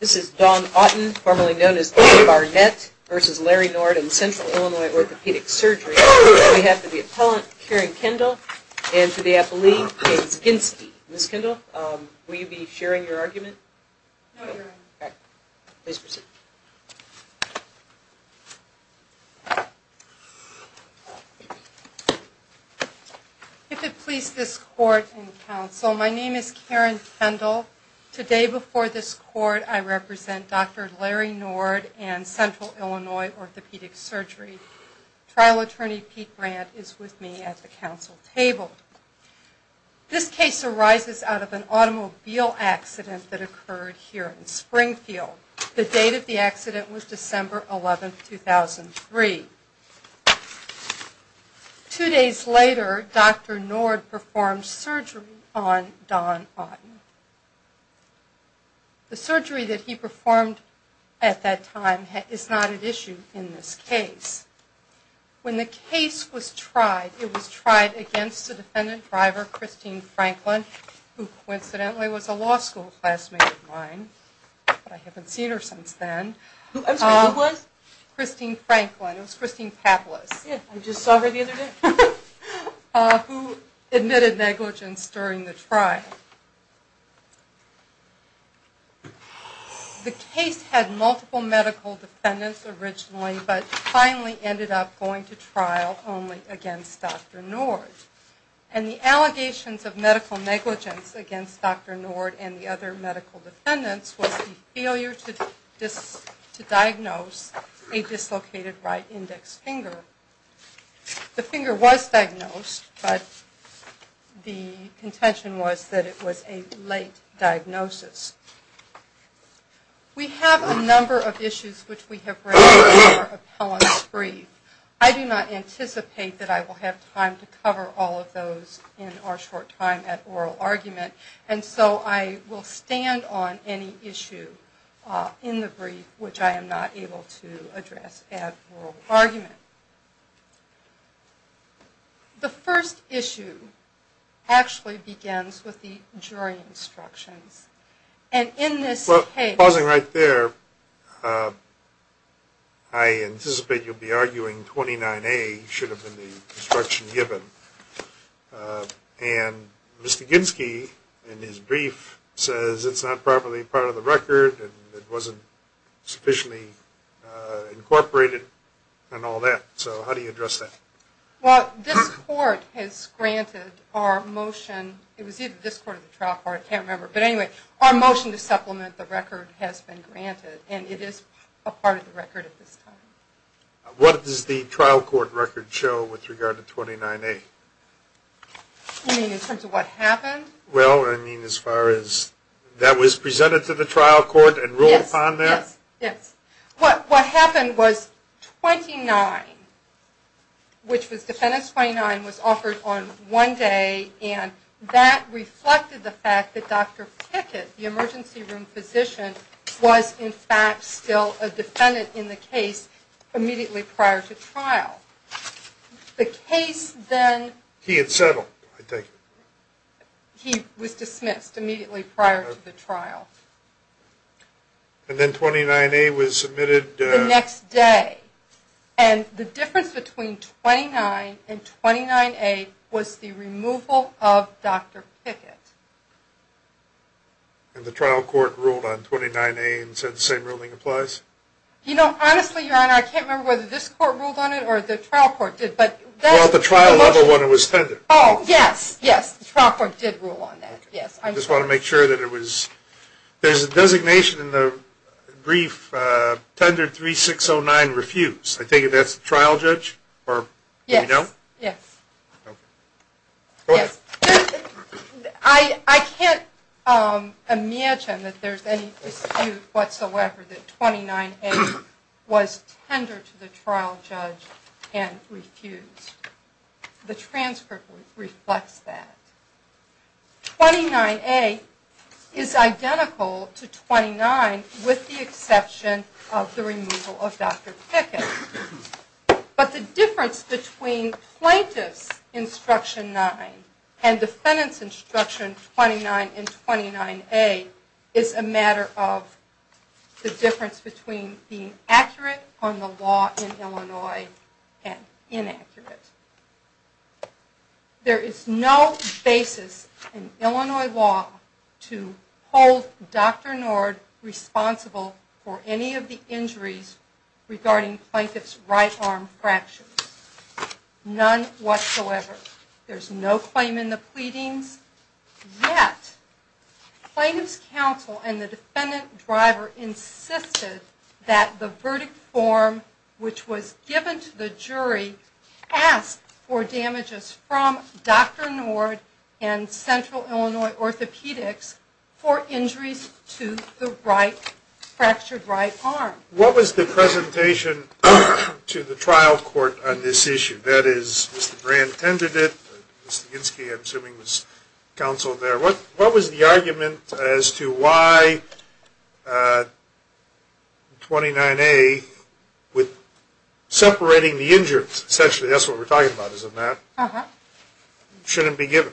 This is Dawn Auten, formerly known as Dawn Barnett, v. Larry Nord, in Central Illinois Orthopedic Surgery. We have with the appellant, Karen Kendall, and to the appellee, James Ginsky. Ms. Kendall, will you be sharing your argument? No, Your Honor. Please proceed. If it please this Court and Counsel, my name is Karen Kendall. Today, before this Court, I represent Dr. Larry Nord and Central Illinois Orthopedic Surgery. Trial attorney, Pete Brandt, is with me at the Counsel table. This case arises out of an automobile accident that occurred here in Springfield. The date of the accident was December 11, 2003. Two days later, Dr. Nord performed surgery on Dawn Auten. The surgery that he performed at that time is not at issue in this case. When the case was tried, it was tried against a defendant driver, Christine Franklin, who coincidentally was a law school classmate of mine, but I haven't seen her since then. I'm sorry, who was? Christine Franklin. It was Christine Pablis. Yeah, I just saw her the other day. Who admitted negligence during the trial. The case had multiple medical defendants originally, but finally ended up going to trial only against Dr. Nord. And the allegations of medical negligence against Dr. Nord and the other medical defendants was the failure to diagnose a dislocated right index finger. The finger was diagnosed, but the contention was that it was a late diagnosis. We have a number of issues which we have raised with our appellants brief. I do not anticipate that I will have time to cover all of those in our short time at oral argument, and so I will stand on any issue in the brief which I am not able to address at oral argument. The first issue actually begins with the jury instructions. And in this case... Well, pausing right there, I anticipate you'll be arguing 29A should have been the instruction given. And Mr. Ginsky, in his brief, says it's not properly part of the record, and it wasn't sufficiently incorporated and all that. So how do you address that? Well, this court has granted our motion. It was either this court or the trial court. I can't remember. But anyway, our motion to supplement the record has been granted, and it is a part of the record at this time. What does the trial court record show with regard to 29A? You mean in terms of what happened? Well, I mean as far as that was presented to the trial court and ruled upon there? Yes. What happened was 29, which was defendant's 29, was offered on one day, and that reflected the fact that Dr. Pickett, the emergency room physician, was in fact still a defendant in the case immediately prior to trial. The case then... He had settled, I take it. He was dismissed immediately prior to the trial. And then 29A was submitted... The next day. And the difference between 29 and 29A was the removal of Dr. Pickett. And the trial court ruled on 29A and said the same ruling applies? You know, honestly, Your Honor, I can't remember whether this court ruled on it or the trial court did. Well, at the trial level when it was tendered. Oh, yes, yes. The trial court did rule on that, yes. I just want to make sure that it was... There's a designation in the brief, tendered 3609, refused. I take it that's the trial judge? Yes, yes. I can't imagine that there's any dispute whatsoever that 29A was tendered to the trial judge and refused. The transcript reflects that. 29A is identical to 29 with the exception of the removal of Dr. Pickett. But the difference between Plaintiff's Instruction 9 and Defendant's Instruction 29 and 29A is a matter of the difference between being accurate on the law in Illinois and inaccurate. There is no basis in Illinois law to hold Dr. Nord responsible for any of the injuries regarding Plaintiff's right arm fractures. None whatsoever. There's no claim in the pleadings. Yet, Plaintiff's counsel and the defendant driver insisted that the verdict form which was given to the jury ask for damages from Dr. Nord and Central Illinois Orthopedics for injuries to the fractured right arm. What was the presentation to the trial court on this issue? That is, Mr. Brand tendered it. Mr. Ginsky, I'm assuming, was counseled there. What was the argument as to why 29A, with separating the injured, essentially, that's what we're talking about, isn't that? Uh-huh. Shouldn't be given.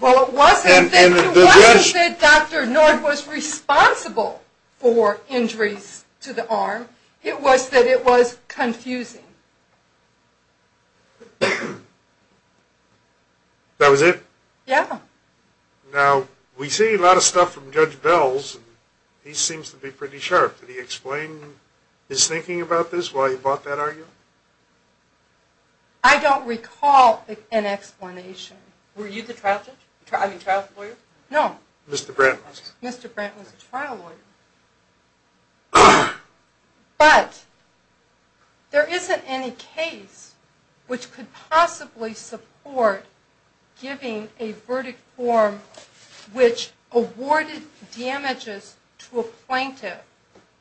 Well, it wasn't that Dr. Nord was responsible for injuries to the arm. It was that it was confusing. That was it? Yeah. Now, we see a lot of stuff from Judge Bell's, and he seems to be pretty sharp. Did he explain his thinking about this while he brought that argument? I don't recall an explanation. Were you the trial judge? I mean, trial lawyer? No. Mr. Brand was. Mr. Brand was a trial lawyer. But there isn't any case which could possibly support giving a verdict form which awarded damages to a plaintiff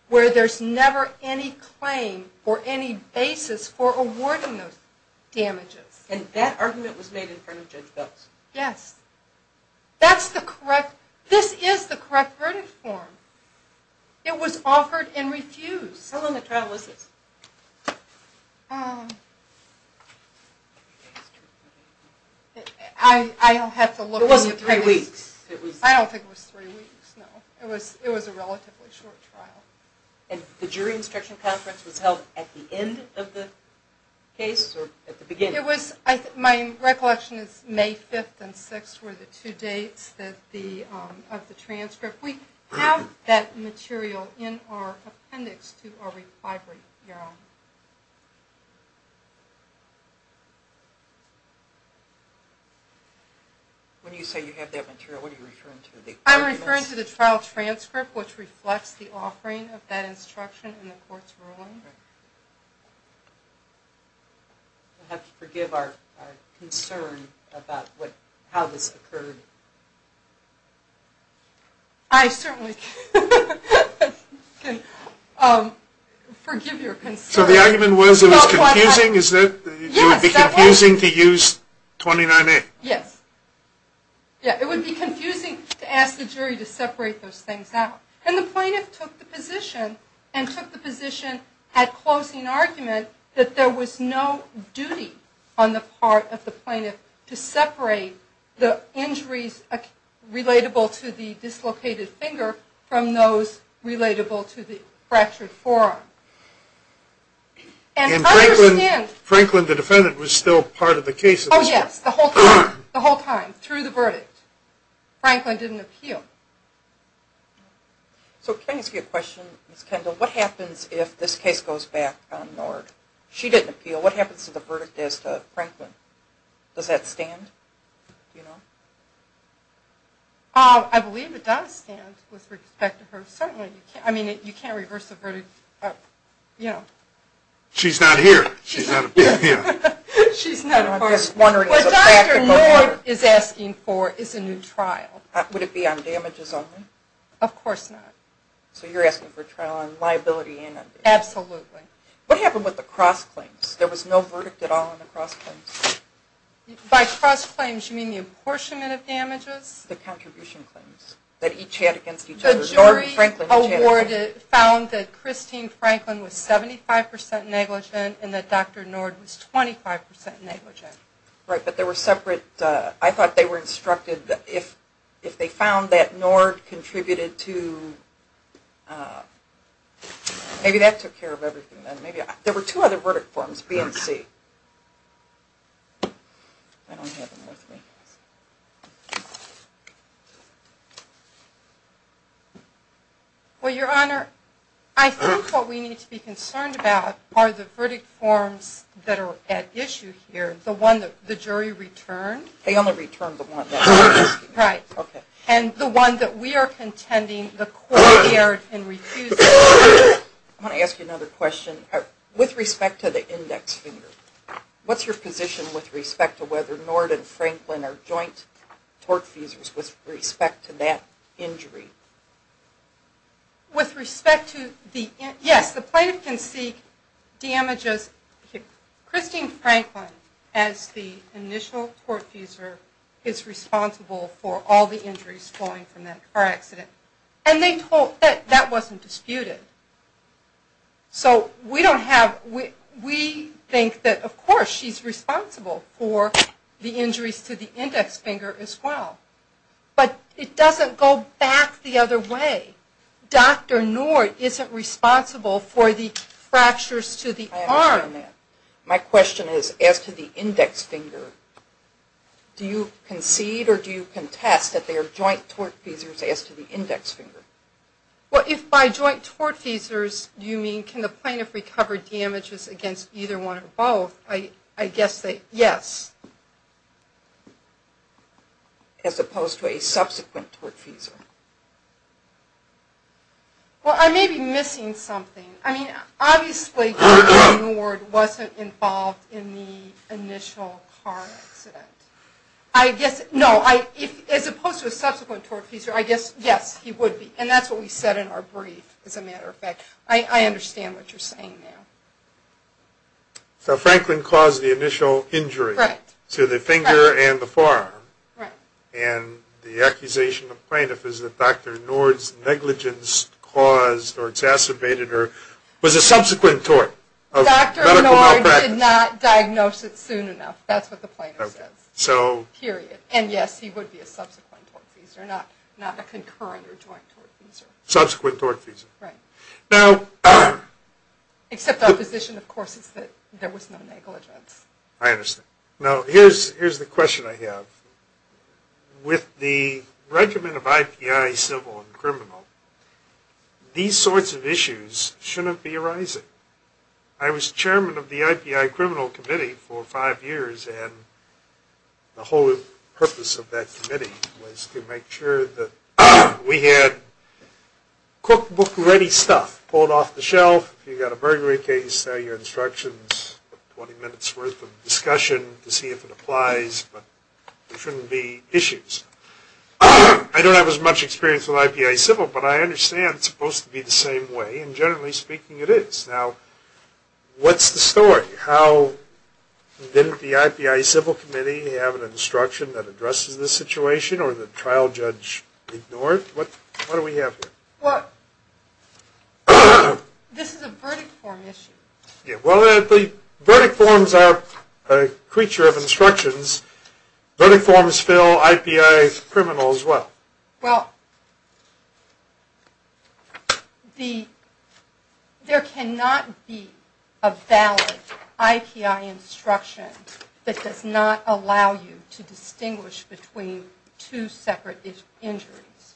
where there's never any claim or any basis for awarding those damages. And that argument was made in front of Judge Bell's? Yes. That's the correct, this is the correct verdict form. It was offered and refused. How long a trial was this? I'll have to look. It wasn't three weeks. I don't think it was three weeks, no. It was a relatively short trial. And the jury instruction conference was held at the end of the case or at the beginning? It was, my recollection is May 5th and 6th were the two dates of the transcript. We have that material in our appendix to our refinery. When you say you have that material, what are you referring to? I'm referring to the trial transcript which reflects the offering of that instruction in the court's ruling. I'll have to forgive our concern about how this occurred. I certainly can forgive your concern. So the argument was it was confusing? Yes. It would be confusing to use 29A? Yes. It would be confusing to ask the jury to separate those things out. And the plaintiff took the position and took the position at closing argument that there was no duty on the part of the plaintiff to separate the injuries relatable to the dislocated finger from those relatable to the fractured forearm. And Franklin, the defendant, was still part of the case? Oh, yes. The whole time. The whole time through the verdict. Franklin didn't appeal. So can I ask you a question, Ms. Kendall? What happens if this case goes back on Nord? She didn't appeal. What happens to the verdict as to Franklin? Does that stand? I believe it does stand with respect to her. Certainly. I mean, you can't reverse the verdict. She's not here. She's not here. What Dr. Nord is asking for is a new trial. Would it be on damages only? Of course not. So you're asking for a trial on liability and on damages. Absolutely. What happened with the cross-claims? There was no verdict at all on the cross-claims. By cross-claims, you mean the apportionment of damages? The contribution claims that each had against each other. The jury found that Christine Franklin was 75% negligent and that Dr. Nord was 25% negligent. Right, but they were separate. I thought they were instructed that if they found that Nord contributed to maybe that took care of everything. There were two other verdict forms, B and C. I don't have them with me. Well, Your Honor, I think what we need to be concerned about are the verdict forms that are at issue here. The one that the jury returned. They only returned the one that we're asking. Right. Okay. And the one that we are contending the court dared and refused to return. I want to ask you another question. With respect to the index finger, what's your position with respect to whether Nord and Franklin are joint tortfusers with respect to that injury? Yes, the plaintiff can seek damages. Christine Franklin, as the initial tortfuser, is responsible for all the injuries flowing from that car accident. And that wasn't disputed. So we don't have – we think that, of course, she's responsible for the injuries to the index finger as well. But it doesn't go back the other way. Dr. Nord isn't responsible for the fractures to the arm. I understand that. My question is, as to the index finger, do you concede or do you contest that they are joint tortfusers as to the index finger? Well, if by joint tortfusers you mean can the plaintiff recover damages against either one or both, I guess that, yes. As opposed to a subsequent tortfuser. Well, I may be missing something. I mean, obviously, Nord wasn't involved in the initial car accident. I guess – no, as opposed to a subsequent tortfuser, I guess, yes, he would be. And that's what we said in our brief, as a matter of fact. I understand what you're saying now. So Franklin caused the initial injury to the finger and the forearm. Right. And the accusation of plaintiff is that Dr. Nord's negligence caused or exacerbated or was a subsequent tort of medical malpractice. Dr. Nord did not diagnose it soon enough. That's what the plaintiff says. Okay. So – period. And, yes, he would be a subsequent tortfuser, not a concurrent or joint tortfuser. Subsequent tortfuser. Right. Now – Except opposition, of course, is that there was no negligence. I understand. Now, here's the question I have. With the regiment of IPI, civil and criminal, these sorts of issues shouldn't be arising. I was chairman of the IPI criminal committee for five years, and the whole purpose of that committee was to make sure that we had cookbook-ready stuff pulled off the shelf. If you've got a burglary case, sell your instructions, 20 minutes' worth of discussion to see if it applies. But there shouldn't be issues. I don't have as much experience with IPI civil, but I understand it's supposed to be the same way, and generally speaking, it is. Now, what's the story? How didn't the IPI civil committee have an instruction that addresses this situation, or the trial judge ignore it? What do we have here? Well, this is a verdict form issue. Yeah, well, the verdict forms are a creature of instructions. Verdict forms fill IPI criminal as well. Well, there cannot be a valid IPI instruction that does not allow you to distinguish between two separate injuries.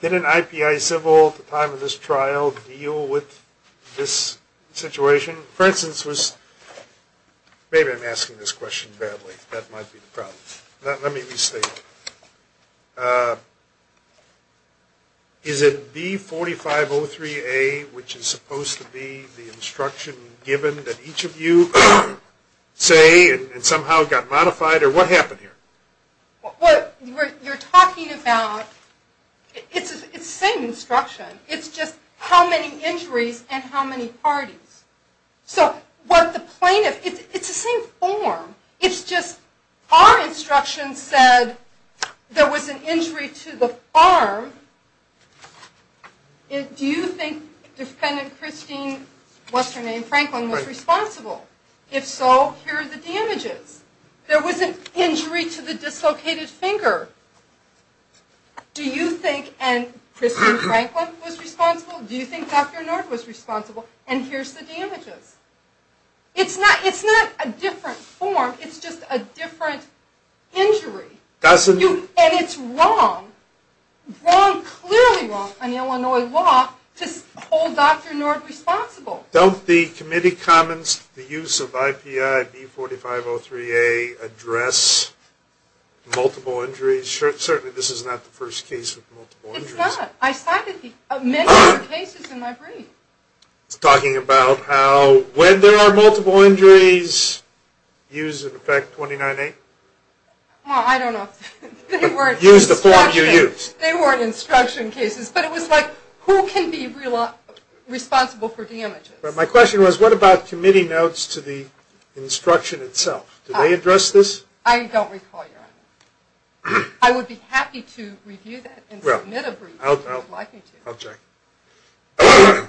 Did an IPI civil at the time of this trial deal with this situation? For instance, maybe I'm asking this question badly. That might be the problem. Let me restate it. Is it B4503A, which is supposed to be the instruction given that each of you say and somehow got modified, or what happened here? Well, you're talking about, it's the same instruction. It's just how many injuries and how many parties. So what the plaintiff, it's the same form. It's just our instruction said there was an injury to the arm. Do you think defendant Christine, what's her name, Franklin, was responsible? If so, here are the damages. There was an injury to the dislocated finger. Do you think Christine Franklin was responsible? Do you think Dr. North was responsible? And here's the damages. It's not a different form. It's just a different injury. And it's wrong, wrong, clearly wrong on Illinois law to hold Dr. North responsible. Don't the committee comments, the use of IPI B4503A address multiple injuries? Certainly this is not the first case with multiple injuries. It's not. I cited many other cases in my brief. It's talking about how when there are multiple injuries, use in effect 29A? Well, I don't know. Use the form you used. They weren't instruction cases, but it was like who can be responsible for damages? My question was what about committee notes to the instruction itself? Did they address this? I don't recall your honor. I would be happy to review that and submit a brief if you would like me to. I'll check.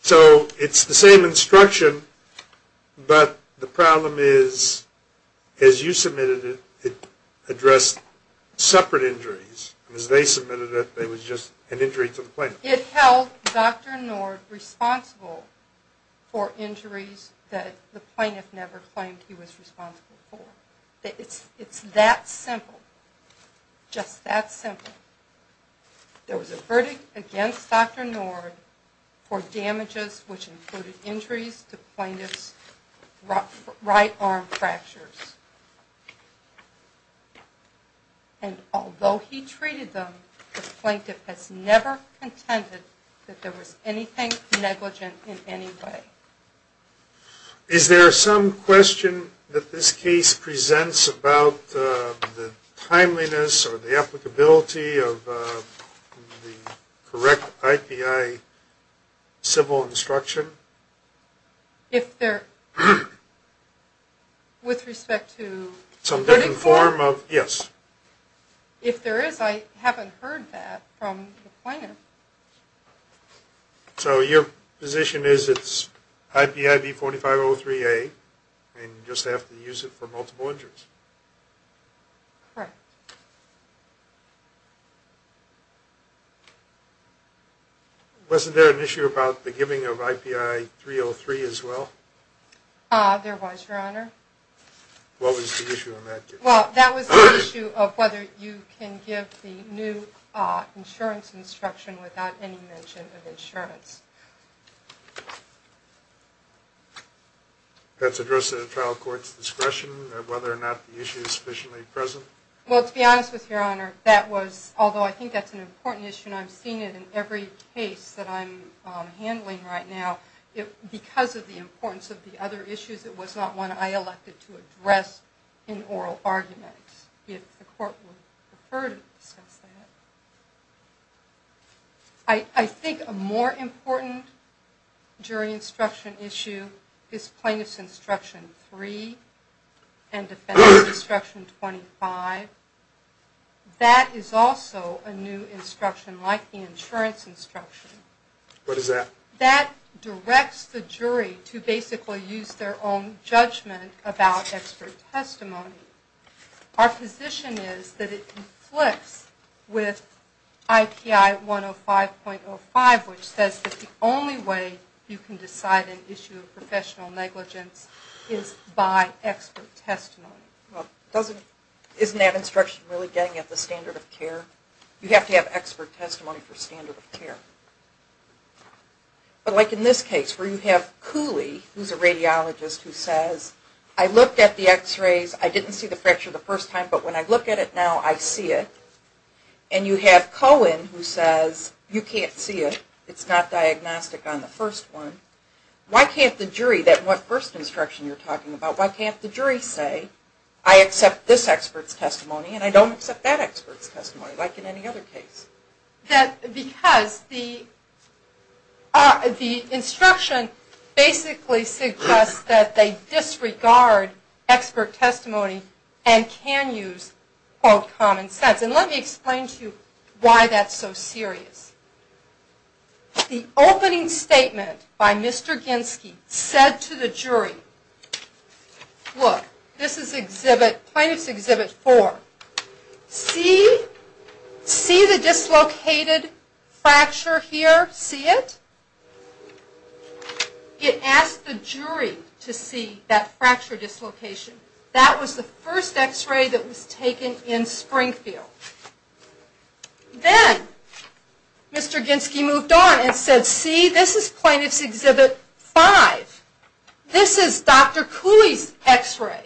So it's the same instruction, but the problem is as you submitted it, it addressed separate injuries. As they submitted it, it was just an injury to the plaintiff. It held Dr. North responsible for injuries that the plaintiff never claimed he was responsible for. It's that simple. Just that simple. There was a verdict against Dr. North for damages which included injuries to plaintiff's right arm fractures. And although he treated them, the plaintiff has never contended that there was anything negligent in any way. Is there some question that this case presents about the timeliness or the applicability of the correct IPI civil instruction? If there is, I haven't heard that from the plaintiff. So your position is it's IPIV-4503A and you just have to use it for multiple injuries? Correct. Wasn't there an issue about the giving of IPI-303 as well? There was, your honor. What was the issue in that case? Well, that was the issue of whether you can give the new insurance instruction without any mention of insurance. That's addressed at a trial court's discretion, whether or not the issue is sufficiently present? Well, to be honest with you, your honor, that was, although I think that's an important issue, and I've seen it in every case that I'm handling right now, because of the importance of the other issues, it was not one I elected to address in oral arguments. If the court would prefer to discuss that. I think a more important jury instruction issue is Plaintiff's Instruction 3 and Defendant's Instruction 25. That is also a new instruction, like the insurance instruction. What is that? That directs the jury to basically use their own judgment about expert testimony. Our position is that it conflicts with IPI-105.05, which says that the only way you can decide an issue of professional negligence is by expert testimony. Isn't that instruction really getting at the standard of care? You have to have expert testimony for standard of care. But like in this case, where you have Cooley, who's a radiologist, who says, I looked at the x-rays, I didn't see the fracture the first time, but when I look at it now, I see it. And you have Cohen, who says, you can't see it, it's not diagnostic on the first one. Why can't the jury, that first instruction you're talking about, why can't the jury say, I accept this expert's testimony and I don't accept that expert's testimony, like in any other case? Because the instruction basically suggests that they disregard expert testimony and can use, quote, common sense. And let me explain to you why that's so serious. The opening statement by Mr. Ginsky said to the jury, look, this is exhibit, Plaintiff's Exhibit 4, see, see the dislocated fracture here, see it? It asked the jury to see that fracture dislocation. That was the first x-ray that was taken in Springfield. Then, Mr. Ginsky moved on and said, see, this is Plaintiff's Exhibit 5. This is Dr. Cooley's x-ray.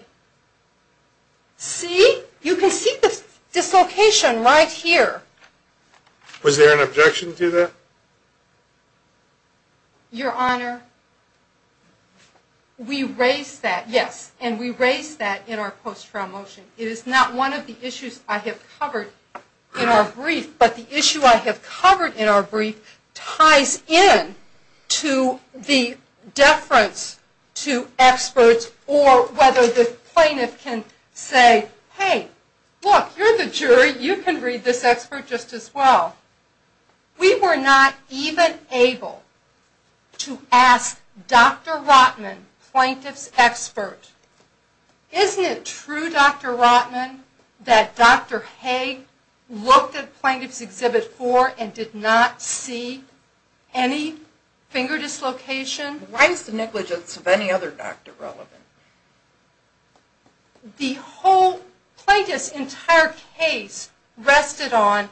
See, you can see the dislocation right here. Was there an objection to that? Your Honor, we raised that, yes, and we raised that in our post-trial motion. It is not one of the issues I have covered in our brief, but the issue I have covered in our brief ties in to the deference to experts or whether the plaintiff can say, hey, look, you're the jury, you can read this expert just as well. We were not even able to ask Dr. Rotman, Plaintiff's expert, isn't it true, Dr. Rotman, that Dr. Haig looked at Plaintiff's Exhibit 4 and did not see any finger dislocation? Why is the negligence of any other doctor relevant? The whole plaintiff's entire case rested on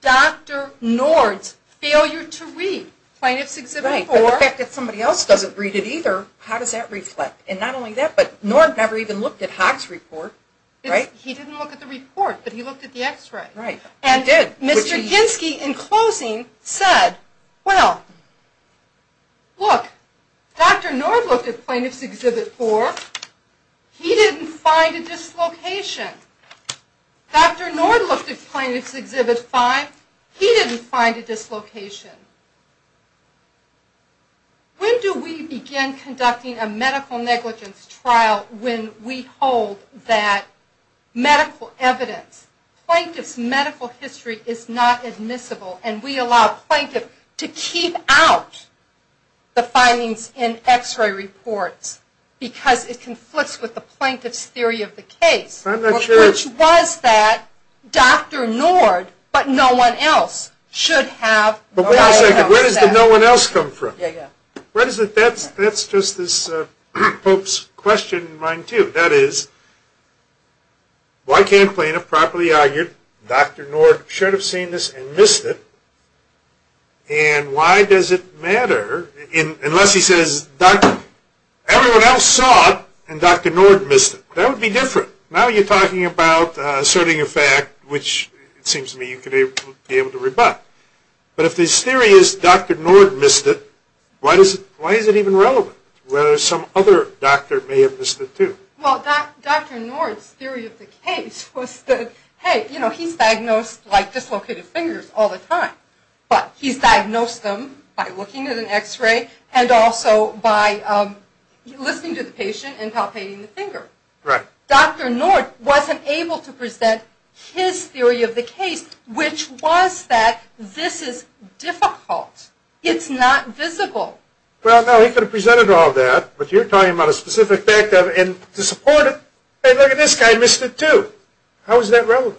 Dr. Nord's failure to read Plaintiff's Exhibit 4. Right, but the fact that somebody else doesn't read it either, how does that reflect? And not only that, but Nord never even looked at Haig's report, right? He didn't look at the report, but he looked at the x-ray. Right, he did. And Mr. Ginski, in closing, said, well, look, Dr. Nord looked at Plaintiff's Exhibit 4. He didn't find a dislocation. Dr. Nord looked at Plaintiff's Exhibit 5. He didn't find a dislocation. When do we begin conducting a medical negligence trial when we hold that medical evidence, Plaintiff's medical history is not admissible, and we allow Plaintiff to keep out the findings in x-ray reports because it conflicts with the Plaintiff's theory of the case, which was that Dr. Nord, but no one else, But wait a second. Where does the no one else come from? That's just this pope's question in mind too. That is, why can't Plaintiff properly argue Dr. Nord should have seen this and missed it, and why does it matter unless he says everyone else saw it and Dr. Nord missed it? That would be different. Now you're talking about asserting a fact, which it seems to me you could be able to rebut. But if this theory is Dr. Nord missed it, why is it even relevant, whether some other doctor may have missed it too? Well, Dr. Nord's theory of the case was that, hey, you know, he's diagnosed like dislocated fingers all the time, but he's diagnosed them by looking at an x-ray Dr. Nord wasn't able to present his theory of the case, which was that this is difficult. It's not visible. Well, no, he could have presented all that, but you're talking about a specific fact and to support it, hey, look at this guy missed it too. How is that relevant?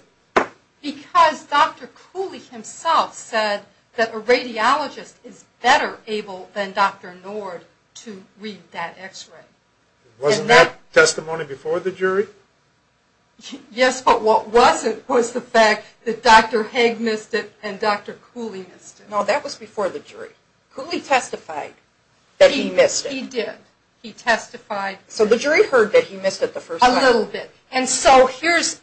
Because Dr. Cooley himself said that a radiologist is better able than Dr. Nord to read that x-ray. Wasn't that testimony before the jury? Yes, but what wasn't was the fact that Dr. Haig missed it and Dr. Cooley missed it. No, that was before the jury. Cooley testified that he missed it. He did. He testified. So the jury heard that he missed it the first time. A little bit. And so here's,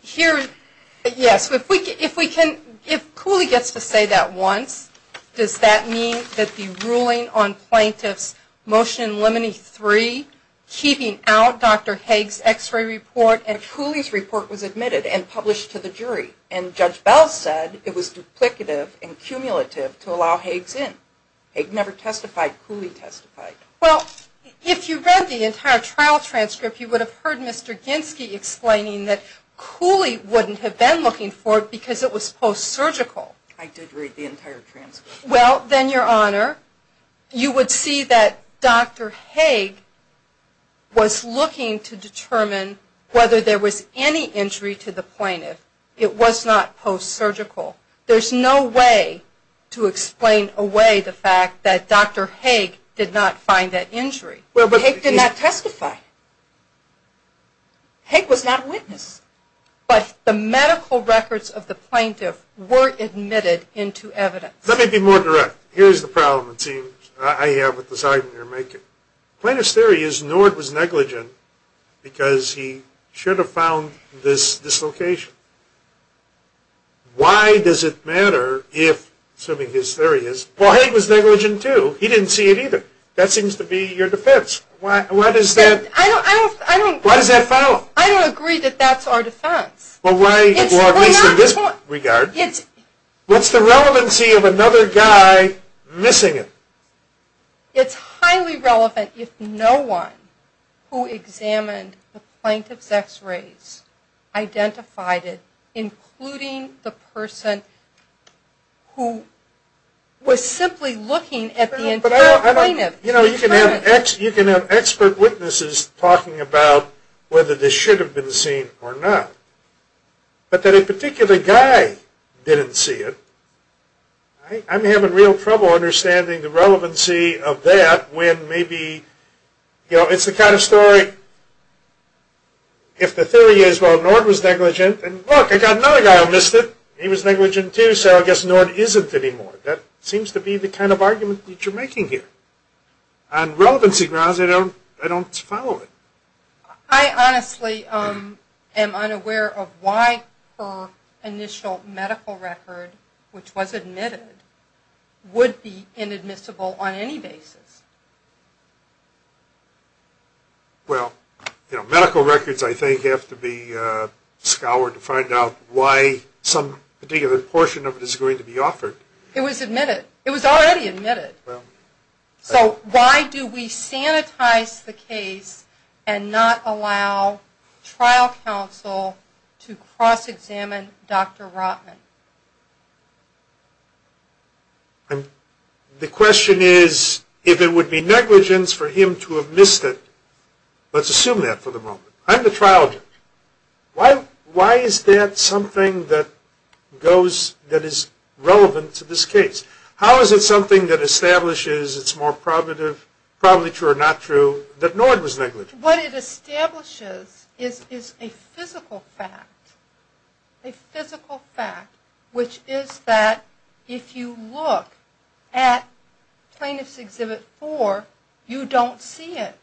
yes, if we can, if Cooley gets to say that once, does that mean that the ruling on plaintiff's motion limiting three, keeping out Dr. Haig's x-ray report, and Cooley's report was admitted and published to the jury. And Judge Bell said it was duplicative and cumulative to allow Haig's in. Haig never testified. Cooley testified. Well, if you read the entire trial transcript, you would have heard Mr. Ginsky explaining that Cooley wouldn't have been looking for it because it was post-surgical. I did read the entire transcript. Well, then, Your Honor, you would see that Dr. Haig was looking to determine whether there was any injury to the plaintiff. It was not post-surgical. There's no way to explain away the fact that Dr. Haig did not find that injury. But Haig did not testify. Haig was not a witness. But the medical records of the plaintiff were admitted into evidence. Let me be more direct. Here's the problem, it seems, I have with this argument you're making. Plaintiff's theory is Nord was negligent because he should have found this dislocation. Why does it matter if, assuming his theory is, well, Haig was negligent too. He didn't see it either. That seems to be your defense. Why does that follow? I don't agree that that's our defense. Well, at least in this regard. What's the relevancy of another guy missing it? It's highly relevant if no one who examined the plaintiff's x-rays identified it, including the person who was simply looking at the entire plaintiff. You know, you can have expert witnesses talking about whether this should have been seen or not. But that a particular guy didn't see it, I'm having real trouble understanding the relevancy of that when maybe, you know, it's the kind of story, if the theory is, well, Nord was negligent, and look, I got another guy who missed it. He was negligent too, so I guess Nord isn't anymore. That seems to be the kind of argument that you're making here. On relevancy grounds, I don't follow it. I honestly am unaware of why her initial medical record, which was admitted, would be inadmissible on any basis. Well, you know, medical records, I think, have to be scoured to find out why some particular portion of it is going to be offered. It was admitted. It was already admitted. So why do we sanitize the case and not allow trial counsel to cross-examine Dr. Rotman? The question is, if it would be negligence for him to have missed it, let's assume that for the moment. I'm the trial judge. Why is that something that is relevant to this case? How is it something that establishes it's more probably true or not true that Nord was negligent? What it establishes is a physical fact, a physical fact, which is that if you look at Plaintiff's Exhibit 4, you don't see it.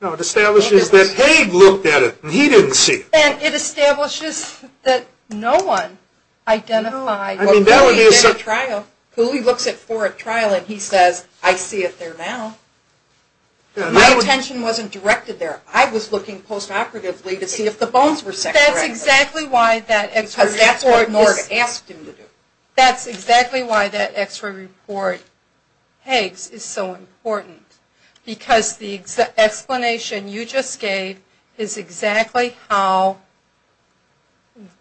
No, it establishes that Haig looked at it and he didn't see it. And it establishes that no one identified who he looks at for a trial and he says, I see it there now. My attention wasn't directed there. I was looking post-operatively to see if the bones were separated. That's exactly why that X-ray report Nord asked him to do. That's exactly why that X-ray report Haig's is so important. Because the explanation you just gave is exactly how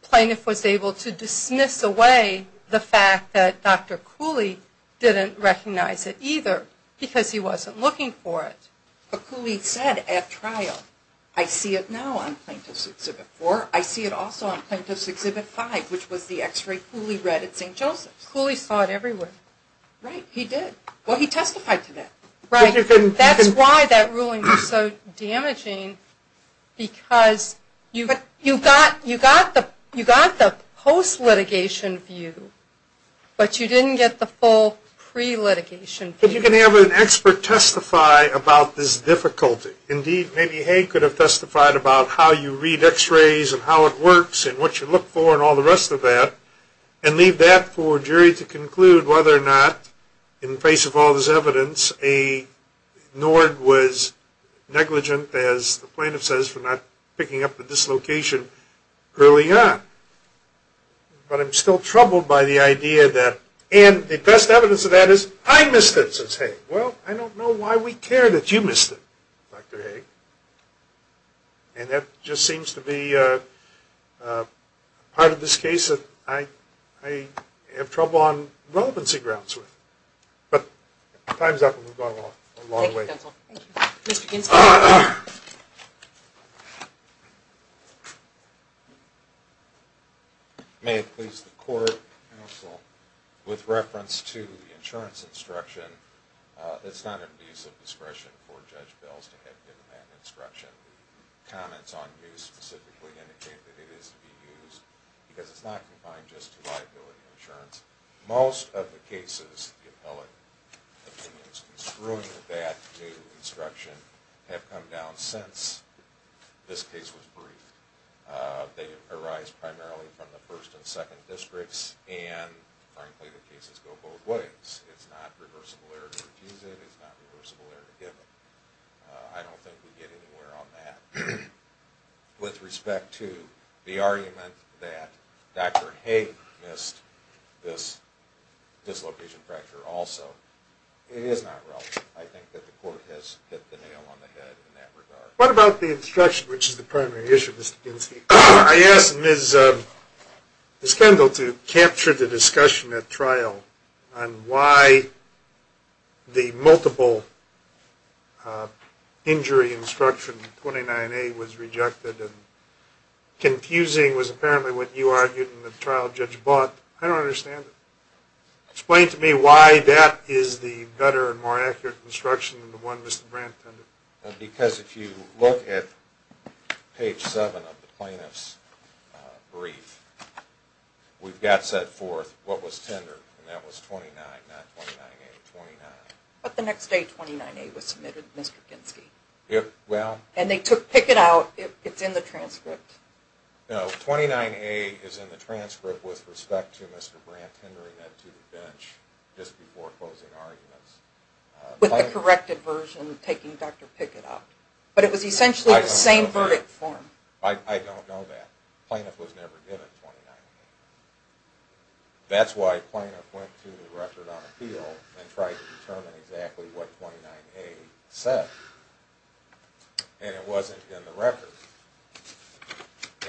Plaintiff was able to dismiss away the fact that Dr. Cooley didn't recognize it either because he wasn't looking for it. But Cooley said at trial, I see it now on Plaintiff's Exhibit 4. I see it also on Plaintiff's Exhibit 5, which was the X-ray Cooley read at St. Joseph's. Cooley saw it everywhere. Right. He did. Well, he testified to that. Right. That's why that ruling was so damaging because you got the post-litigation view, but you didn't get the full pre-litigation view. But you can have an expert testify about this difficulty. Indeed, maybe Haig could have testified about how you read X-rays and how it works and what you look for and all the rest of that, and leave that for a jury to conclude whether or not, in the face of all this evidence, a Nord was negligent, as the Plaintiff says, for not picking up the dislocation early on. But I'm still troubled by the idea that, and the best evidence of that is, I missed it, says Haig. Well, I don't know why we care that you missed it, Dr. Haig. And that just seems to be part of this case that I have trouble on relevancy grounds with. But time's up, and we've gone a long way. Thank you, counsel. Thank you. Mr. Ginsburg. Thank you. May it please the Court, counsel, with reference to the insurance instruction, it's not an abuse of discretion for Judge Belz to have independent instruction. Comments on use specifically indicate that it is to be used, because it's not confined just to liability insurance. Most of the cases, the appellate opinions, construing that new instruction have come down since this case was briefed. They arise primarily from the first and second districts, and, frankly, the cases go both ways. It's not reversible error to use it. It's not reversible error to give it. I don't think we get anywhere on that. With respect to the argument that Dr. Haig missed this dislocation fracture also, it is not relevant. I think that the Court has hit the nail on the head in that regard. What about the instruction, which is the primary issue, Mr. Ginsky? I asked Ms. Kendall to capture the discussion at trial on why the multiple injury instruction, 29A, was rejected. Confusing was apparently what you argued and the trial judge bought. I don't understand it. Explain to me why that is the better and more accurate instruction than the one Mr. Brandt tended. Because if you look at page 7 of the plaintiff's brief, we've got set forth what was tendered, and that was 29, not 29A, 29. But the next day 29A was submitted, Mr. Ginsky. And they took it out. It's in the transcript. No, 29A is in the transcript with respect to Mr. Brandt tendering it to the bench just before closing arguments. With the corrected version taking Dr. Pickett out. But it was essentially the same verdict form. I don't know that. Plaintiff was never given 29A. That's why plaintiff went to the record on appeal and tried to determine exactly what 29A said. And it wasn't in the record.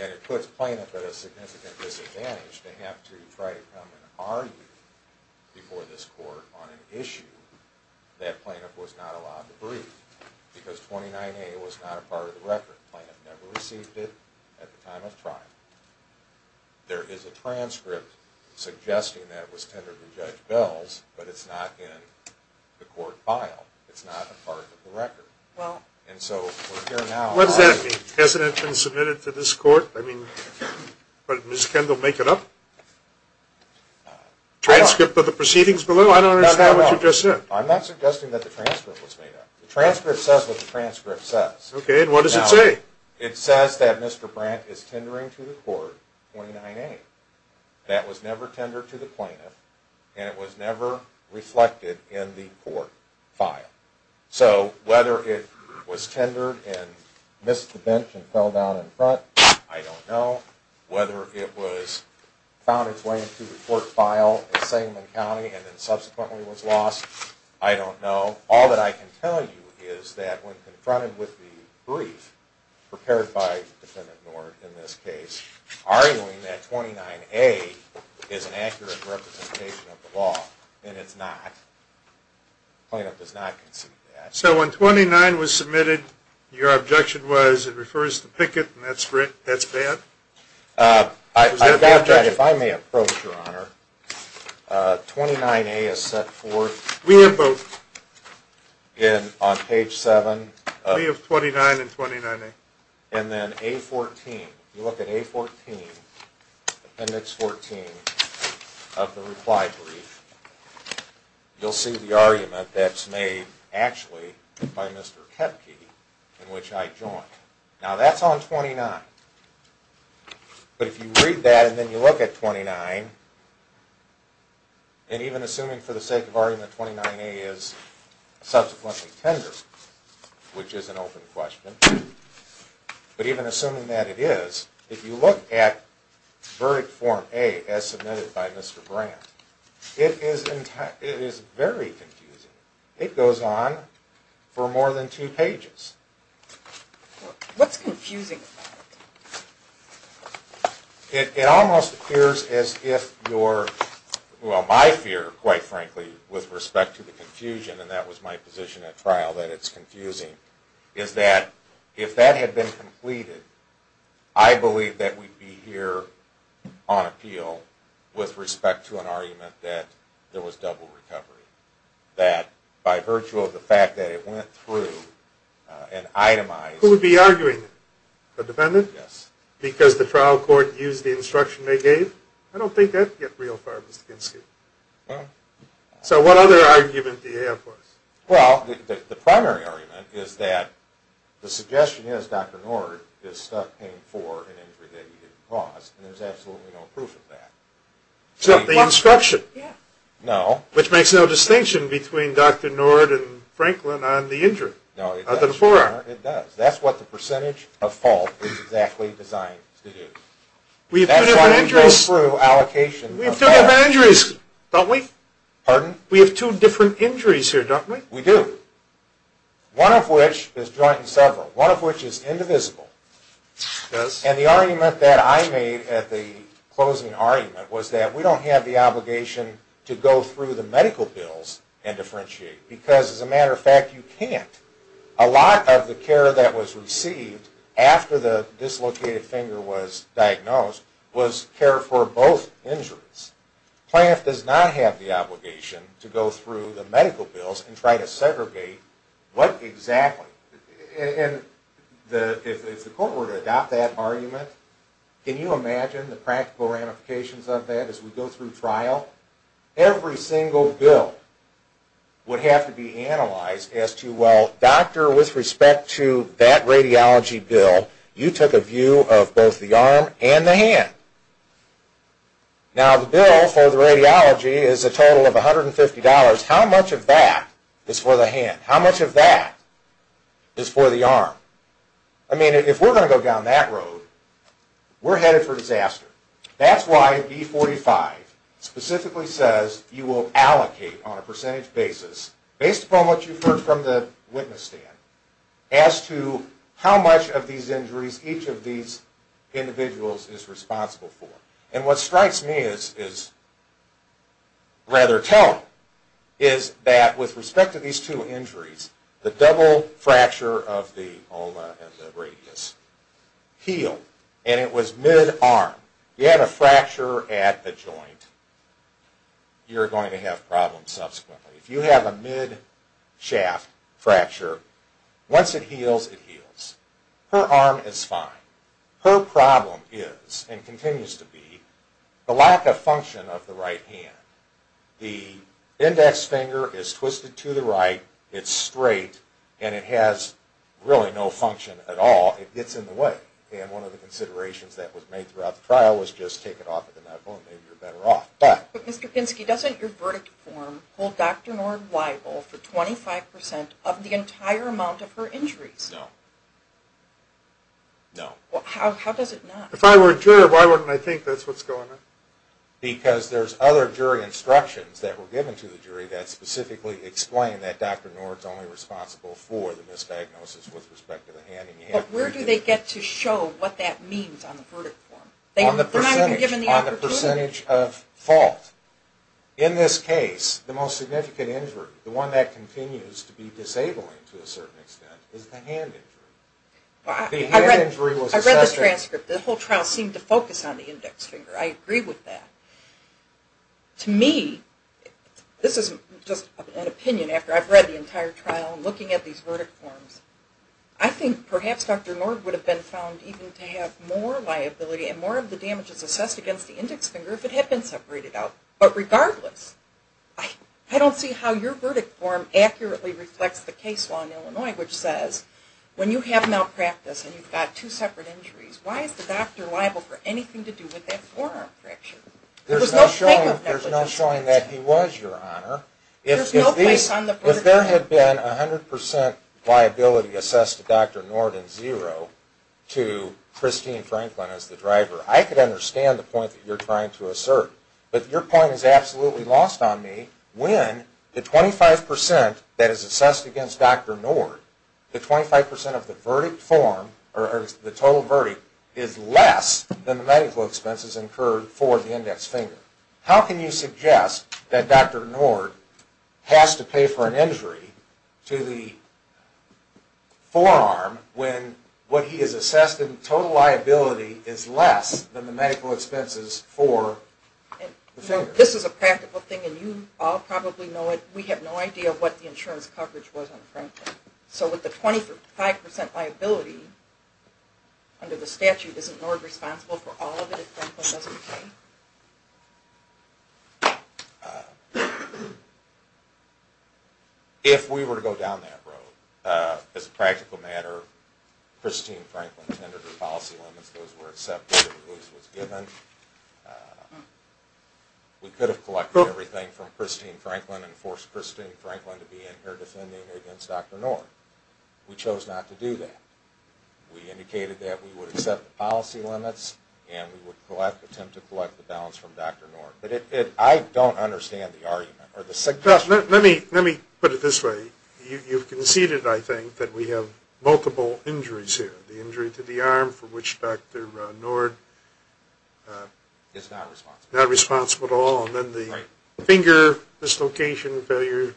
And it puts plaintiff at a significant disadvantage to have to try to come and argue before this court on an issue that plaintiff was not allowed to brief. Because 29A was not a part of the record. Plaintiff never received it at the time of trial. There is a transcript suggesting that it was tendered to Judge Bells, but it's not in the court file. It's not a part of the record. Well, what does that mean? Hasn't it been submitted to this court? Does Ms. Kendall make it up? Transcript of the proceedings below? I don't understand what you just said. I'm not suggesting that the transcript was made up. The transcript says what the transcript says. Okay, and what does it say? It says that Mr. Brandt is tendering to the court 29A. That was never tendered to the plaintiff, and it was never reflected in the court file. So whether it was tendered and missed the bench and fell down in front, I don't know. Whether it was found its way into the court file at Sengman County and then subsequently was lost, I don't know. All that I can tell you is that when confronted with the brief prepared by Defendant Nord in this case, arguing that 29A is an accurate representation of the law, and it's not, the plaintiff does not concede that. So when 29 was submitted, your objection was it refers to Pickett, and that's bad? I doubt that. If I may approach, Your Honor, 29A is set forth. We have both. On page 7. We have 29 and 29A. And then A14. You look at A14, appendix 14 of the reply brief, you'll see the argument that's made actually by Mr. Kepke, in which I joined. Now that's on 29. But if you read that and then you look at 29, and even assuming for the sake of argument 29A is subsequently tendered, which is an open question, but even assuming that it is, if you look at verdict form A as submitted by Mr. Brandt, it is very confusing. It goes on for more than two pages. What's confusing about it? It almost appears as if your, well, my fear, quite frankly, with respect to the confusion, and that was my position at trial, that it's confusing, is that if that had been completed, I believe that we'd be here on appeal with respect to an argument that there was double recovery. That by virtue of the fact that it went through and itemized. Who would be arguing it? The defendant? Yes. Because the trial court used the instruction they gave? I don't think that would get real far, Mr. Kinski. No. So what other argument do you have for us? Well, the primary argument is that the suggestion is Dr. Nord is stuck paying for an injury that he didn't cause, and there's absolutely no proof of that. Except the instruction. Yeah. No. Which makes no distinction between Dr. Nord and Franklin on the injury. No, it does. It does. That's what the percentage of fault is exactly designed to do. We have two different injuries. That's why we go through allocations. We have two different injuries, don't we? Pardon? We have two different injuries here, don't we? We do. One of which is joint and several. One of which is indivisible. It does. And the argument that I made at the closing argument was that we don't have the obligation to go through the medical bills and differentiate. Because, as a matter of fact, you can't. A lot of the care that was received after the dislocated finger was diagnosed was care for both injuries. Planned Parenthood does not have the obligation to go through the medical bills and try to segregate what exactly. If the court were to adopt that argument, can you imagine the practical ramifications of that as we go through trial? Every single bill would have to be analyzed as to, well, doctor, with respect to that radiology bill, you took a view of both the arm and the hand. Now, the bill for the radiology is a total of $150. How much of that is for the hand? How much of that is for the arm? I mean, if we're going to go down that road, we're headed for disaster. That's why E45 specifically says you will allocate on a percentage basis, based upon what you've heard from the witness stand, as to how much of these injuries each of these individuals is responsible for. And what strikes me is rather telling, is that with respect to these two injuries, the double fracture of the ulna and the radius healed, and it was mid-arm. If you had a fracture at a joint, you're going to have problems subsequently. If you have a mid-shaft fracture, once it heals, it heals. Her arm is fine. Her problem is, and continues to be, the lack of function of the right hand. The index finger is twisted to the right, it's straight, and it has really no function at all. It gets in the way. And one of the considerations that was made throughout the trial was just take it off at the knuckle and maybe you're better off. But, Mr. Kinski, doesn't your verdict form hold Dr. Nord liable for 25% of the entire amount of her injuries? No. No. How does it not? If I were a juror, why wouldn't I think that's what's going on? Because there's other jury instructions that were given to the jury that specifically explain that Dr. Nord is only responsible for the misdiagnosis with respect to the hand. But where do they get to show what that means on the verdict form? They're not even given the opportunity. On the percentage of fault. In this case, the most significant injury, the one that continues to be disabling to a certain extent, is the hand injury. I read the transcript. The whole trial seemed to focus on the index finger. I agree with that. To me, this is just an opinion after I've read the entire trial and looking at these verdict forms. I think perhaps Dr. Nord would have been found even to have more liability and more of the damages assessed against the index finger if it had been separated out. But regardless, I don't see how your verdict form accurately reflects the case law in Illinois, which says when you have malpractice and you've got two separate injuries, why is the doctor liable for anything to do with that forearm fracture? There's no showing that he was, Your Honor. If there had been 100% liability assessed to Dr. Nord and zero to Christine Franklin as the driver, I could understand the point that you're trying to assert. But your point is absolutely lost on me when the 25% that is assessed against Dr. Nord, the 25% of the verdict form, or the total verdict, is less than the medical expenses incurred for the index finger. How can you suggest that Dr. Nord has to pay for an injury to the forearm when what he has assessed in total liability is less than the medical expenses for the finger? This is a practical thing, and you all probably know it. We have no idea what the insurance coverage was on Franklin. So with the 25% liability under the statute, isn't Nord responsible for all of it if Franklin doesn't pay? If we were to go down that road, as a practical matter, Christine Franklin tended to policy limits. Those were accepted and those were given. We could have collected everything from Christine Franklin and forced Christine Franklin to be in here defending against Dr. Nord. We chose not to do that. We indicated that we would accept the policy limits and we would attempt to collect the balance from Dr. Nord. But I don't understand the argument or the suggestion. Let me put it this way. You've conceded, I think, that we have multiple injuries here. The injury to the arm for which Dr. Nord is not responsible at all. And then the finger dislocation failure,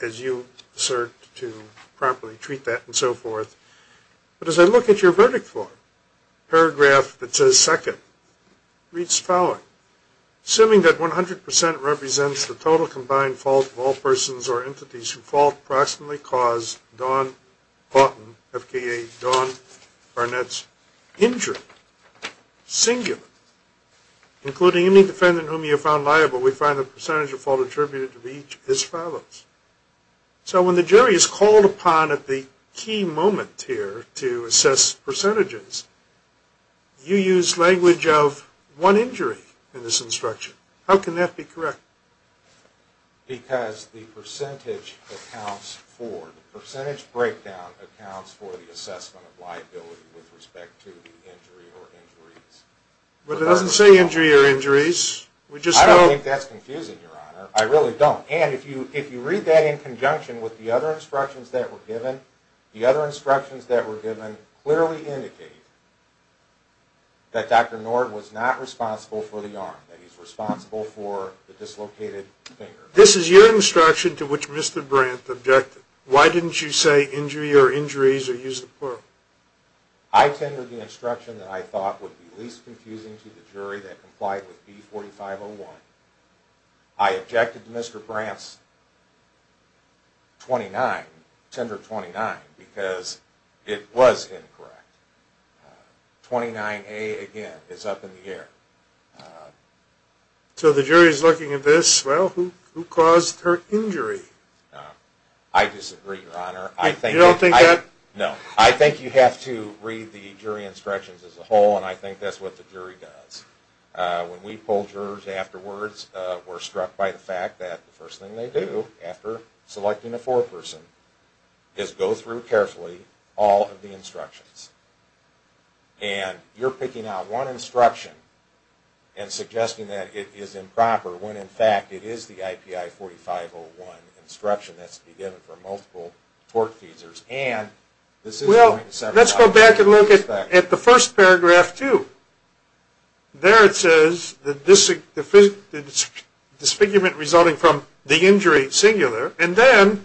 as you assert to properly treat that and so forth. But as I look at your verdict form, paragraph that says second, reads following. Assuming that 100% represents the total combined fault of all persons or entities who fault proximately cause Don Barton, FKA Don Barnett's injury, singular. Including any defendant whom you found liable, we find the percentage of fault attributed to each as follows. So when the jury is called upon at the key moment here to assess percentages, you use language of one injury in this instruction. How can that be correct? Because the percentage accounts for, the percentage breakdown accounts for the assessment of liability with respect to the injury or injuries. But it doesn't say injury or injuries. I don't think that's confusing, Your Honor. I really don't. And if you read that in conjunction with the other instructions that were given, the other instructions that were given clearly indicate that Dr. Nord was not responsible for the arm, that he's responsible for the dislocated finger. This is your instruction to which Mr. Brandt objected. Why didn't you say injury or injuries or use the plural? I tendered the instruction that I thought would be least confusing to the jury that complied with B4501. I objected to Mr. Brandt's 29, tender 29, because it was incorrect. 29A, again, is up in the air. So the jury's looking at this, well, who caused her injury? I disagree, Your Honor. You don't think that? No. I think you have to read the jury instructions as a whole, and I think that's what the jury does. When we polled jurors afterwards, we're struck by the fact that the first thing they do after selecting a foreperson is go through carefully all of the instructions. And you're picking out one instruction and suggesting that it is improper when, in fact, it is the IPI 4501 instruction that's to be given for multiple torque teasers. Well, let's go back and look at the first paragraph, too. There it says the disfigurement resulting from the injury singular, and then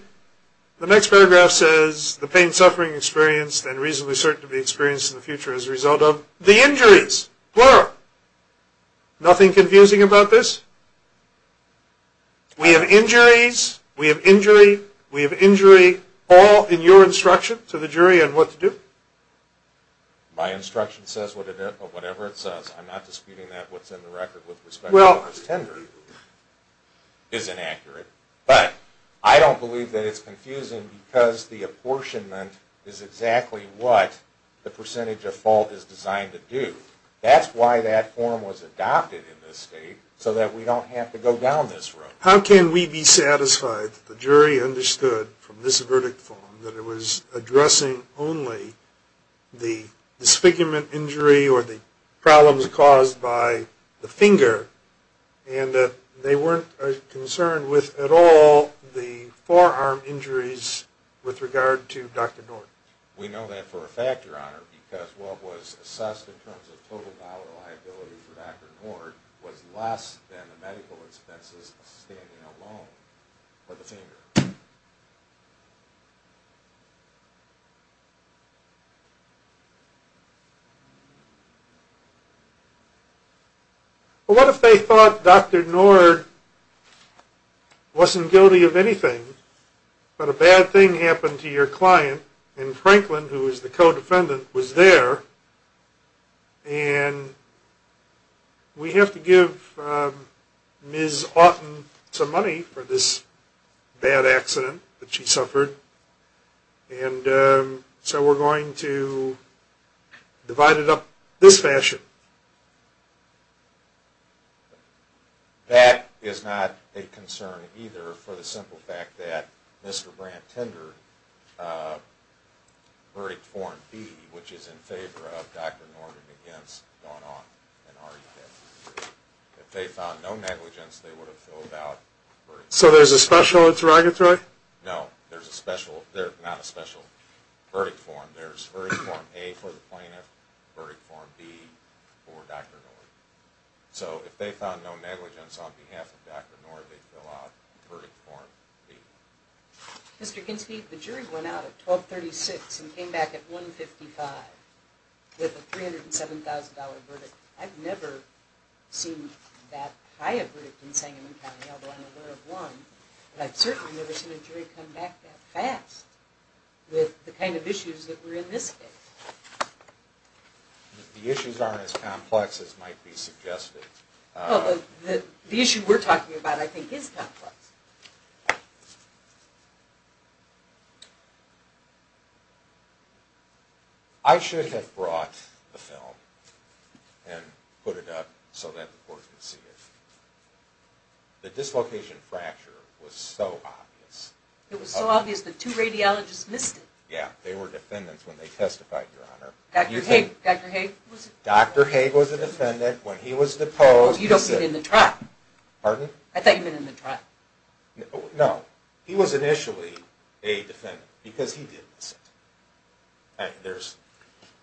the next paragraph says the pain and suffering experienced and reasonably certain to be experienced in the future as a result of the injuries, plural. Nothing confusing about this? We have injuries, we have injury, we have injury, all in your instruction to the jury on what to do? My instruction says whatever it says. I'm not disputing that. What's in the record with respect to the first tender is inaccurate. But I don't believe that it's confusing because the apportionment is exactly what the percentage of fault is designed to do. That's why that form was adopted in this state so that we don't have to go down this road. How can we be satisfied that the jury understood from this verdict form that it was addressing only the disfigurement injury or the problems caused by the finger and that they weren't concerned with at all the forearm injuries with regard to Dr. Nord? We know that for a fact, Your Honor, because what was assessed in terms of total dollar liability for Dr. Nord was less than the medical expenses of standing alone for the finger. Well, what if they thought Dr. Nord wasn't guilty of anything, but a bad thing happened to your client, and Franklin, who was the co-defendant, was there, and we have to give Ms. Auten some money for this bad thing. And so we're going to divide it up this fashion. That is not a concern either for the simple fact that Mr. Brandt tendered verdict form B, which is in favor of Dr. Nord and against, gone on and argued that if they found no negligence, they would have filled out verdict form B. So there's a special interrogatory? No, there's not a special verdict form. There's verdict form A for the plaintiff, verdict form B for Dr. Nord. So if they found no negligence on behalf of Dr. Nord, they fill out verdict form B. Mr. Ginsburg, the jury went out at 1236 and came back at 155 with a $307,000 verdict. I've never seen that high a verdict in Sangamon County, although I'm aware of one, but I've certainly never seen a jury come back that fast with the kind of issues that we're in this case. The issues aren't as complex as might be suggested. The issue we're talking about, I think, is complex. I should have brought the film and put it up so that the court could see it. The dislocation fracture was so obvious. It was so obvious that two radiologists missed it. Yeah, they were defendants when they testified, Your Honor. Dr. Haig? Dr. Haig was a defendant when he was deposed. Oh, you don't sit in the trial. Pardon? I thought you meant in the trial. No, he was initially a defendant because he did miss it.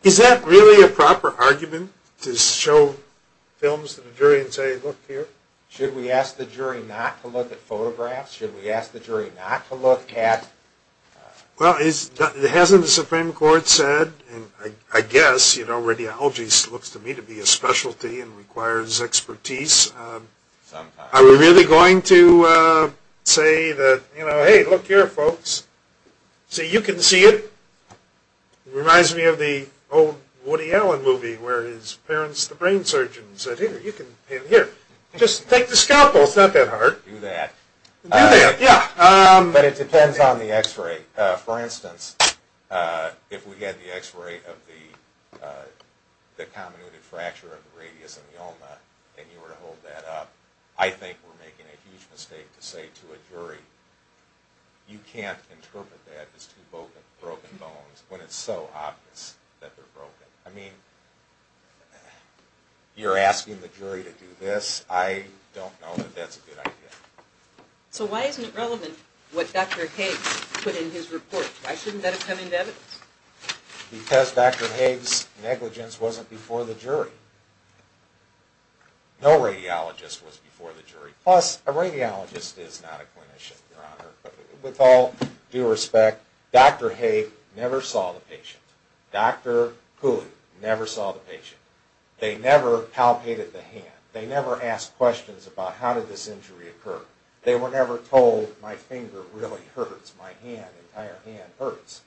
Is that really a proper argument to show films to the jury and say, Look here? Should we ask the jury not to look at photographs? Should we ask the jury not to look at? Well, hasn't the Supreme Court said, and I guess radiology looks to me to be a specialty and requires expertise, are we really going to say, Hey, look here, folks. See, you can see it. It reminds me of the old Woody Allen movie where his parents, the brain surgeons, said, Here, you can see it here. Just take the scalpel. It's not that hard. Do that. Do that, yeah. But it depends on the x-ray. For instance, if we had the x-ray of the comminuted fracture of the radius and the ulna and you were to hold that up, I think we're making a huge mistake to say to a jury, You can't interpret that as two broken bones when it's so obvious that they're broken. I mean, you're asking the jury to do this. I don't know that that's a good idea. So why isn't it relevant what Dr. Higgs put in his report? Why shouldn't that have come into evidence? Because Dr. Higgs' negligence wasn't before the jury. No radiologist was before the jury. Plus, a radiologist is not a clinician, Your Honor. With all due respect, Dr. Higgs never saw the patient. Dr. Cooley never saw the patient. They never palpated the hand. They never asked questions about how did this injury occur. They were never told, My finger really hurts. My hand, entire hand hurts.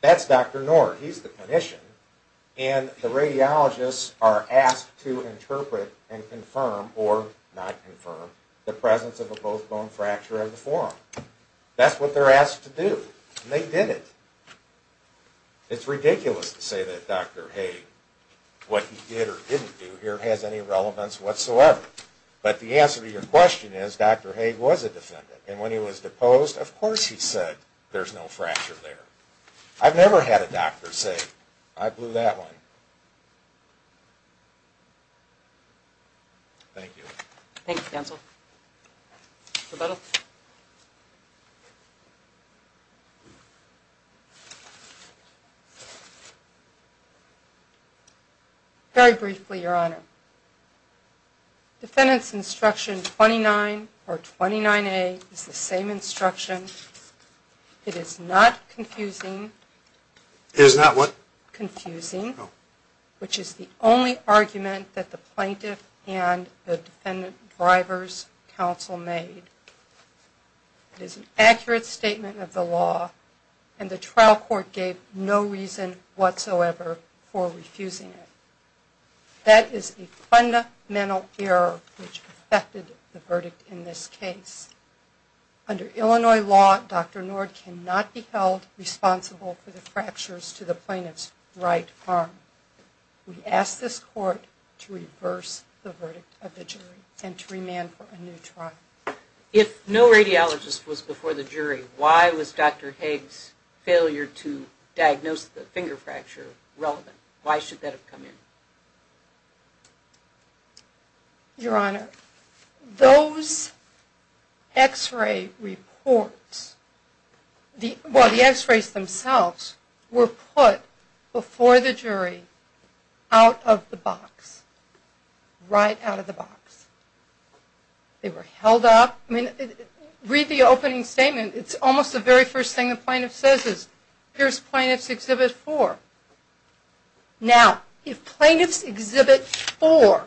That's Dr. Nord. He's the clinician. And the radiologists are asked to interpret and confirm, or not confirm, the presence of a both bone fracture at the forum. That's what they're asked to do. And they did it. It's ridiculous to say that Dr. Higgs, what he did or didn't do here, has any relevance whatsoever. But the answer to your question is, Dr. Higgs was a defendant. And when he was deposed, of course he said, There's no fracture there. I've never had a doctor say, I blew that one. Thank you. Thank you, counsel. Very briefly, Your Honor. Defendant's instruction 29, or 29A, is the same instruction. It is not confusing. It is not what? Confusing, which is the only argument that the plaintiff and the defendant driver's counsel made. It is an accurate statement of the law, and the trial court gave no reason whatsoever for refusing it. That is a fundamental error which affected the verdict in this case. Under Illinois law, Dr. Nord cannot be held responsible for the fractures to the plaintiff's right arm. We ask this court to reverse the verdict of the jury and to remand for a new trial. If no radiologist was before the jury, why was Dr. Higgs' failure to diagnose the finger fracture relevant? Why should that have come in? Your Honor, those x-ray reports, well, the x-rays themselves, were put before the jury out of the box, right out of the box. They were held up. I mean, read the opening statement. It's almost the very first thing the plaintiff says is, here's Plaintiff's Exhibit 4. Now, if Plaintiff's Exhibit 4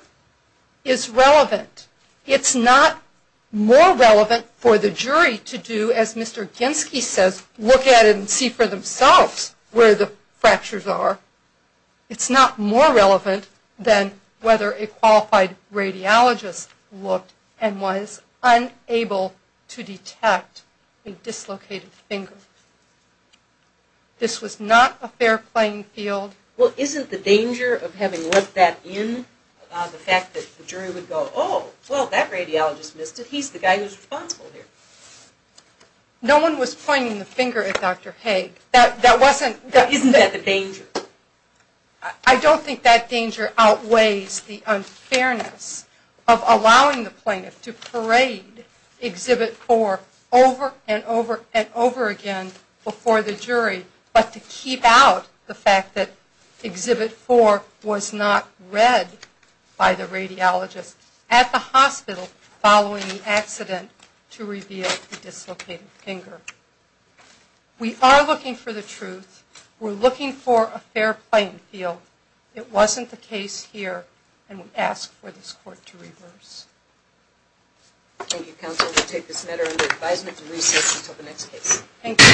is relevant, it's not more relevant for the jury to do, as Mr. Genske says, look at it and see for themselves where the fractures are. It's not more relevant than whether a qualified radiologist looked and was unable to detect a dislocated finger. This was not a fair playing field. Well, isn't the danger of having let that in, the fact that the jury would go, oh, well, that radiologist missed it. He's the guy who's responsible here. No one was pointing the finger at Dr. Higgs. Isn't that the danger? I don't think that danger outweighs the unfairness of allowing the plaintiff to parade Exhibit 4 over and over and over again before the jury, but to keep out the fact that Exhibit 4 was not read by the radiologist at the hospital following the accident to reveal the dislocated finger. We are looking for the truth. We're looking for a fair playing field. It wasn't the case here, and we ask for this court to reverse. Thank you, counsel. We'll take this matter under advisement to recess until the next case. Thank you.